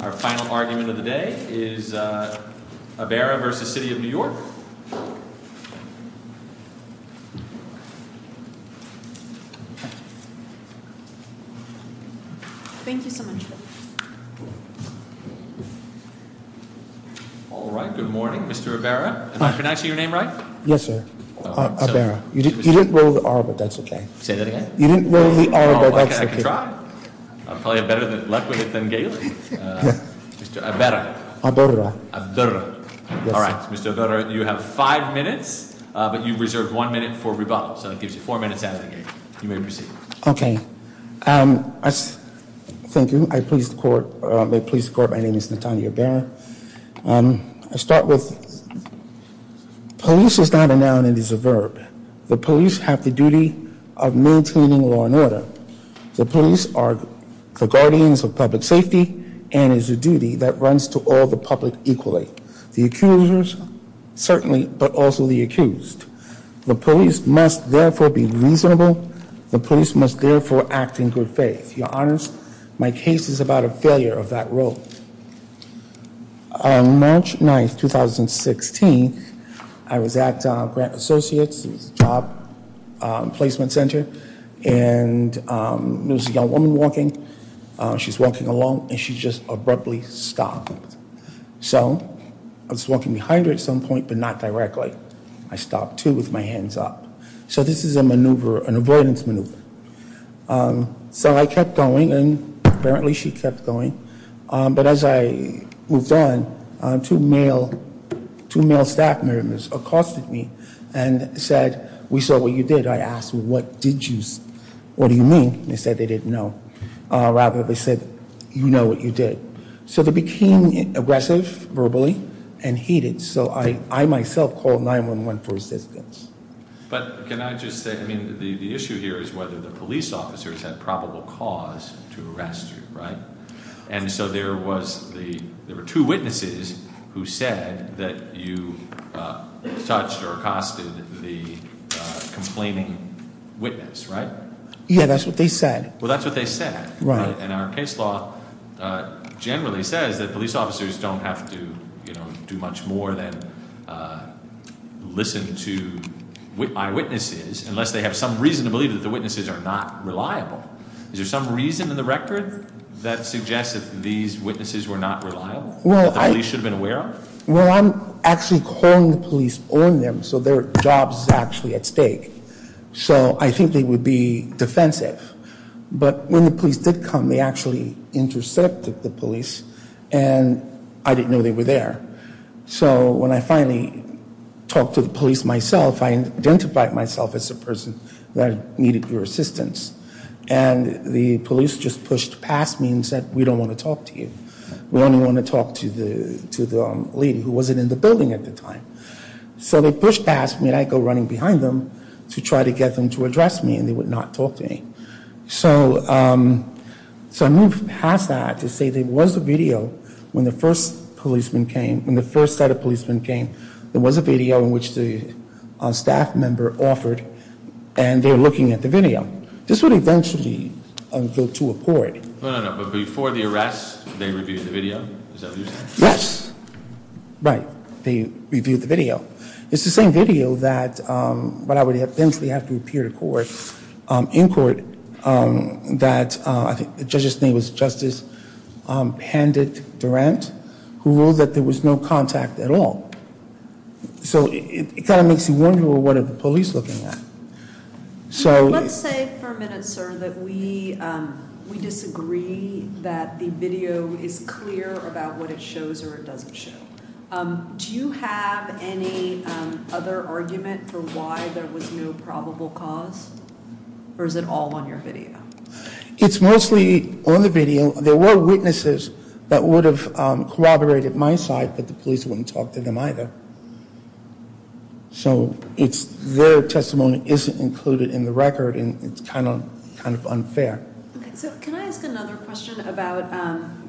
Our final argument of the day is Abera v. City of New York Thank you so much Alright, good morning, Mr. Abera. Am I pronouncing your name right? Yes, sir. Abera. You didn't roll the R, but that's okay. Say that again? You didn't roll the R, but that's okay. Okay, I can try. I'm probably a better, more eloquent than Gailey. Mr. Abera. Abera. Abera. Alright, Mr. Abera, you have five minutes, but you reserved one minute for rebuttal. So that gives you four minutes out of the game. You may proceed. Okay. Thank you. I please the court. I please the court. My name is Natanya Abera. The police have the duty of maintaining law and order. The police are the guardians of public safety and is a duty that runs to all the public equally. The accusers, certainly, but also the accused. The police must therefore be reasonable. The police must therefore act in good faith. Your honors, my case is about a failure of that role. March 9th, 2016, I was at Grant Associates. It was a job placement center, and there was a young woman walking. She's walking along, and she just abruptly stopped. So I was walking behind her at some point, but not directly. I stopped, too, with my hands up. So this is a maneuver, an avoidance maneuver. So I kept going, and apparently she kept going. But as I moved on, two male staff members accosted me and said, we saw what you did. I asked, what do you mean? They said they didn't know. Rather, they said, you know what you did. So they became aggressive, verbally, and heated. So I myself called 911 for assistance. But can I just say, I mean, the issue here is whether the police officers had probable cause to arrest you, right? And so there were two witnesses who said that you touched or accosted the complaining witness, right? Yeah, that's what they said. Well, that's what they said. Right. And our case law generally says that police officers don't have to do much more than listen to eyewitnesses, unless they have some reason to believe that the witnesses are not reliable. Is there some reason in the record that suggests that these witnesses were not reliable, that the police should have been aware of? Well, I'm actually calling the police on them so their job's actually at stake. So I think they would be defensive. But when the police did come, they actually intercepted the police, and I didn't know they were there. So when I finally talked to the police myself, I identified myself as the person that needed your assistance. And the police just pushed past me and said, we don't want to talk to you. We only want to talk to the lady who wasn't in the building at the time. So they pushed past me, and I go running behind them to try to get them to address me, and they would not talk to me. So I moved past that to say there was a video when the first set of policemen came. There was a video in which the staff member offered, and they were looking at the video. This would eventually go to a court. No, no, no. But before the arrest, they reviewed the video? Is that what you're saying? Yes. Right. They reviewed the video. It's the same video that would eventually have to appear in court that the judge's name was Justice Pandit-Durant, who ruled that there was no contact at all. So it kind of makes you wonder, well, what are the police looking at? Let's say for a minute, sir, that we disagree that the video is clear about what it shows or it doesn't show. Do you have any other argument for why there was no probable cause, or is it all on your video? It's mostly on the video. There were witnesses that would have corroborated my side, but the police wouldn't talk to them either. So their testimony isn't included in the record, and it's kind of unfair. So can I ask another question about,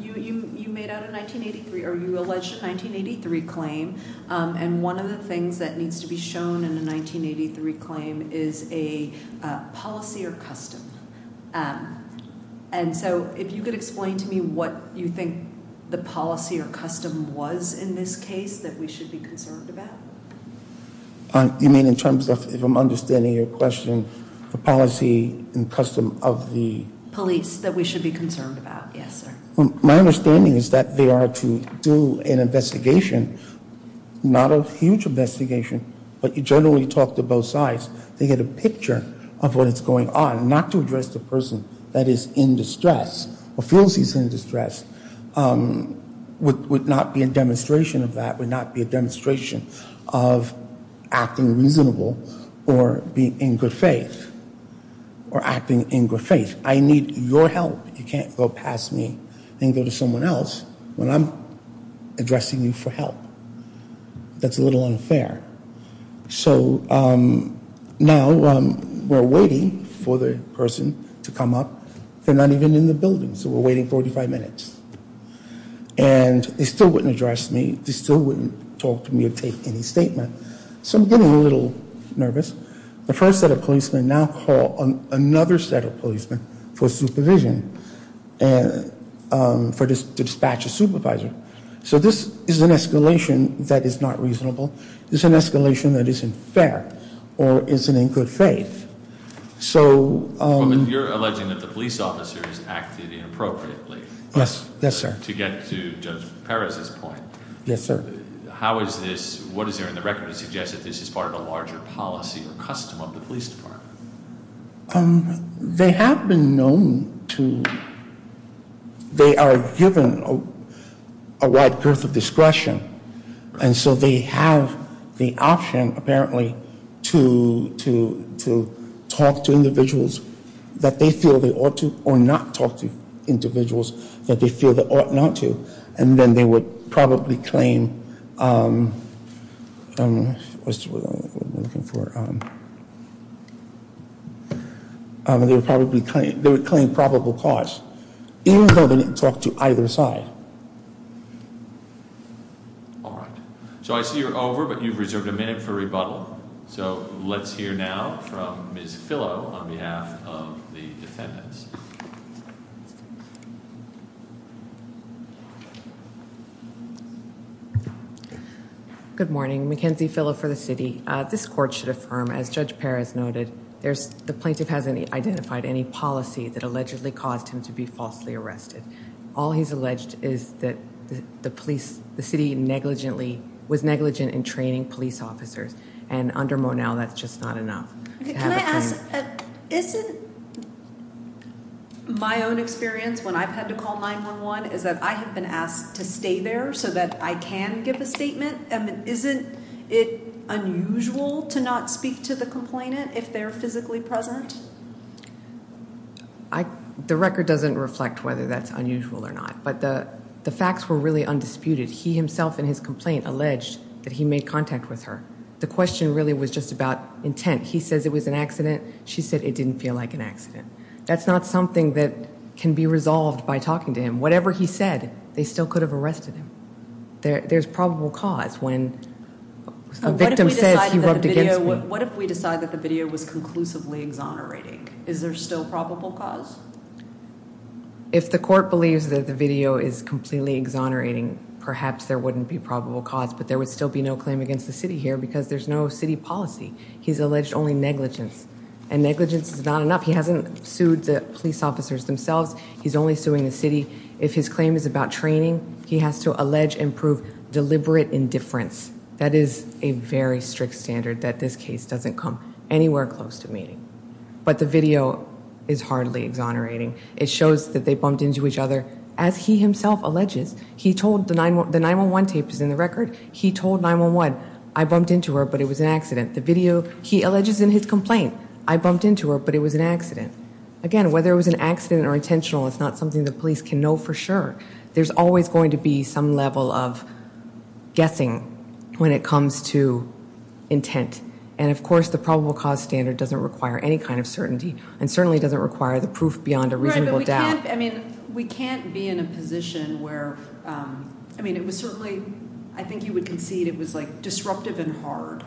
you made out a 1983, or you alleged a 1983 claim, and one of the things that needs to be shown in a 1983 claim is a policy or custom. And so if you could explain to me what you think the policy or custom was in this case that we should be concerned about? You mean in terms of, if I'm understanding your question, the policy and custom of the- Police that we should be concerned about, yes, sir. My understanding is that they are to do an investigation, not a huge investigation, but you generally talk to both sides. They get a picture of what is going on. Not to address the person that is in distress or feels he's in distress would not be a demonstration of that, would not be a demonstration of acting reasonable or being in good faith or acting in good faith. I need your help. You can't go past me and go to someone else when I'm addressing you for help. That's a little unfair. So now we're waiting for the person to come up. They're not even in the building, so we're waiting 45 minutes. And they still wouldn't address me. They still wouldn't talk to me or take any statement. So I'm getting a little nervous. The first set of policemen now call another set of policemen for supervision and for dispatch a supervisor. So this is an escalation that is not reasonable. It's an escalation that isn't fair or isn't in good faith. So- You're alleging that the police officers acted inappropriately. Yes, yes, sir. To get to Judge Perez's point. Yes, sir. How is this, what is there in the record to suggest that this is part of a larger policy or custom of the police department? They have been known to, they are given a wide girth of discretion. And so they have the option, apparently, to talk to individuals that they feel they ought to or not talk to individuals that they feel they ought not to. And then they would probably claim, they would claim probable cause, even though they didn't talk to either side. No? All right. So I see you're over, but you've reserved a minute for rebuttal. So let's hear now from Ms. Fillo on behalf of the defendants. Good morning. Mackenzie Fillo for the city. This court should affirm, as Judge Perez noted, the plaintiff hasn't identified any policy that allegedly caused him to be falsely arrested. All he's alleged is that the police, the city negligently, was negligent in training police officers. And under Monell, that's just not enough. Can I ask, isn't my own experience when I've had to call 911 is that I have been asked to stay there so that I can give a statement? Isn't it unusual to not speak to the complainant if they're physically present? The record doesn't reflect whether that's unusual or not. But the facts were really undisputed. He himself in his complaint alleged that he made contact with her. The question really was just about intent. He says it was an accident. She said it didn't feel like an accident. That's not something that can be resolved by talking to him. Whatever he said, they still could have arrested him. There's probable cause when a victim says he rubbed against me. What if we decide that the video was conclusively exonerating? Is there still probable cause? If the court believes that the video is completely exonerating, perhaps there wouldn't be probable cause. But there would still be no claim against the city here because there's no city policy. He's alleged only negligence. And negligence is not enough. He hasn't sued the police officers themselves. He's only suing the city. If his claim is about training, he has to allege and prove deliberate indifference. That is a very strict standard that this case doesn't come anywhere close to meeting. But the video is hardly exonerating. It shows that they bumped into each other. As he himself alleges, he told the 9-1-1, the 9-1-1 tape is in the record. He told 9-1-1, I bumped into her but it was an accident. The video, he alleges in his complaint, I bumped into her but it was an accident. Again, whether it was an accident or intentional, it's not something the police can know for sure. There's always going to be some level of guessing when it comes to intent. And, of course, the probable cause standard doesn't require any kind of certainty and certainly doesn't require the proof beyond a reasonable doubt. We can't be in a position where, I mean, it was certainly, I think you would concede, it was like disruptive and hard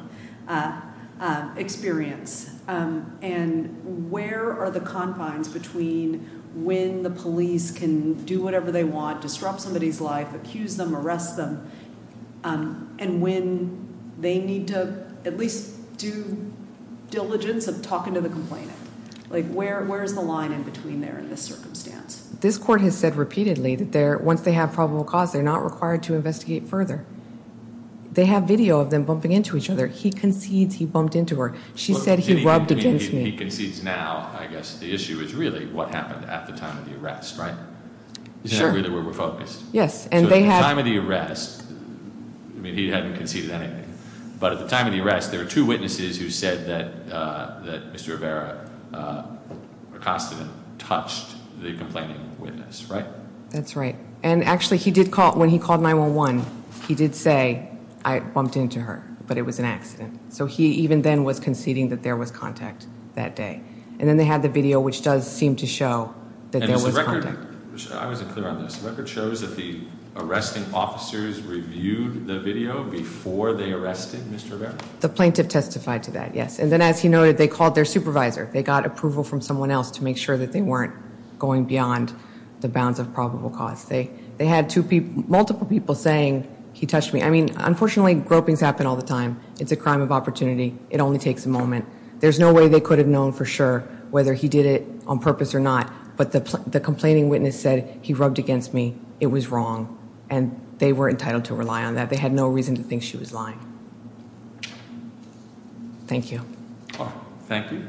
experience. And where are the confines between when the police can do whatever they want, disrupt somebody's life, accuse them, arrest them, and when they need to at least do diligence of talking to the complainant. Like where is the line in between there in this circumstance? This court has said repeatedly that once they have probable cause, they're not required to investigate further. They have video of them bumping into each other. He concedes he bumped into her. She said he rubbed against me. He concedes now, I guess the issue is really what happened at the time of the arrest, right? Sure. Isn't that really where we're focused? Yes. So at the time of the arrest, I mean, he hadn't conceded anything. But at the time of the arrest, there were two witnesses who said that Mr. Rivera, a constant, touched the complaining witness, right? That's right. And actually, when he called 911, he did say, I bumped into her, but it was an accident. So he even then was conceding that there was contact that day. And then they had the video, which does seem to show that there was contact. I wasn't clear on this. The record shows that the arresting officers reviewed the video before they arrested Mr. Rivera? The plaintiff testified to that, yes. And then as he noted, they called their supervisor. They got approval from someone else to make sure that they weren't going beyond the bounds of probable cause. They had multiple people saying, he touched me. I mean, unfortunately, gropings happen all the time. It's a crime of opportunity. It only takes a moment. There's no way they could have known for sure whether he did it on purpose or not. But the complaining witness said, he rubbed against me. It was wrong. And they were entitled to rely on that. They had no reason to think she was lying. Thank you. Thank you.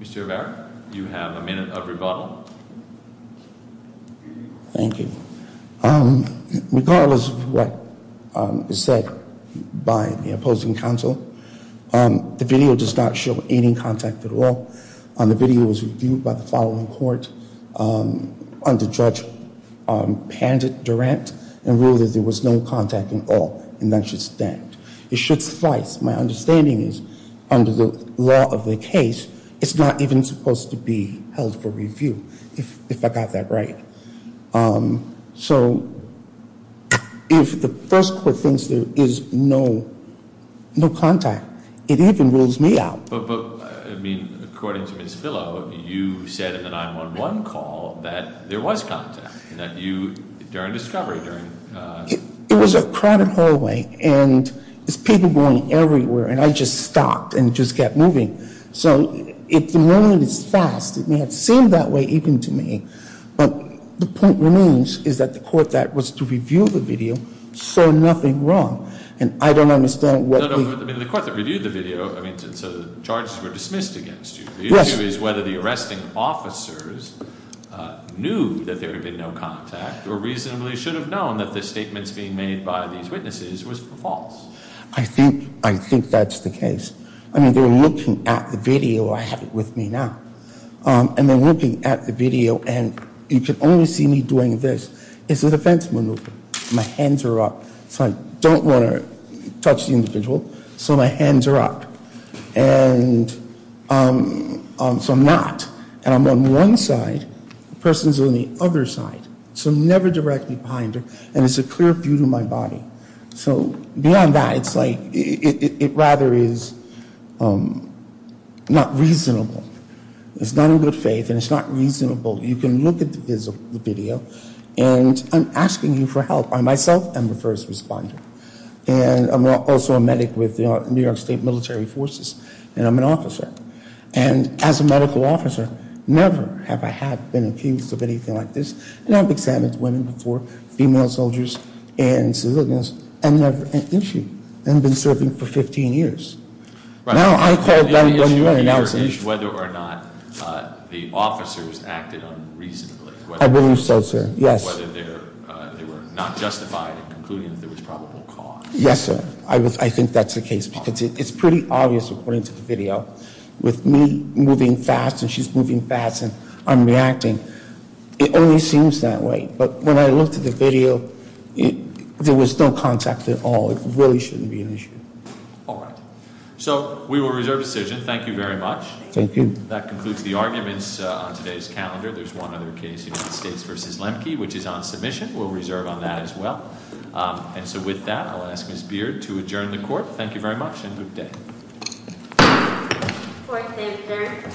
Mr. Rivera, you have a minute of rebuttal. Thank you. Regardless of what is said by the opposing counsel, the video does not show any contact at all. The video was reviewed by the following court under Judge Pandit-Durant and ruled that there was no contact at all. And that should stand. It should suffice. My understanding is, under the law of the case, it's not even supposed to be held for review, if I got that right. So, if the first court thinks there is no contact, it even rules me out. But, I mean, according to Ms. Fillo, you said in the 911 call that there was contact, that you, during discovery, during It was a crowded hallway. And there's people going everywhere. And I just stopped and just kept moving. So, if the moment is fast, it may have seemed that way even to me. But the point remains is that the court that was to review the video saw nothing wrong. And I don't understand what the No, no. I mean, the court that reviewed the video, I mean, so the charges were dismissed against you. Yes. The issue is whether the arresting officers knew that there had been no contact or reasonably should have known that the statements being made by these witnesses was false. I think that's the case. I mean, they were looking at the video. I have it with me now. And they're looking at the video. And you could only see me doing this. It's a defense maneuver. My hands are up. So, I don't want to touch the individual. So, my hands are up. And so, I'm not. And I'm on one side. The person's on the other side. So, never direct me behind her. And it's a clear view to my body. So, beyond that, it's like, it rather is not reasonable. It's not in good faith. And it's not reasonable. You can look at the video. And I'm asking you for help. I, myself, am a first responder. And I'm also a medic with New York State Military Forces. And I'm an officer. And as a medical officer, never have I been accused of anything like this. And I've examined women before, female soldiers, and civilians. And never an issue. And I've been serving for 15 years. Now, I call them when you're announcing. Whether or not the officers acted unreasonably. I believe so, sir. Yes. Whether they were not justified in concluding that there was probable cause. Yes, sir. I think that's the case. Because it's pretty obvious according to the video. With me moving fast and she's moving fast and I'm reacting. It only seems that way. But when I looked at the video, there was no contact at all. It really shouldn't be an issue. All right. So, we will reserve the decision. Thank you very much. Thank you. That concludes the arguments on today's calendar. There's one other case, United States v. Lemke, which is on submission. We'll reserve on that as well. And so, with that, I'll ask Ms. Beard to adjourn the court. Thank you very much and have a good day. Court is adjourned. Thank you.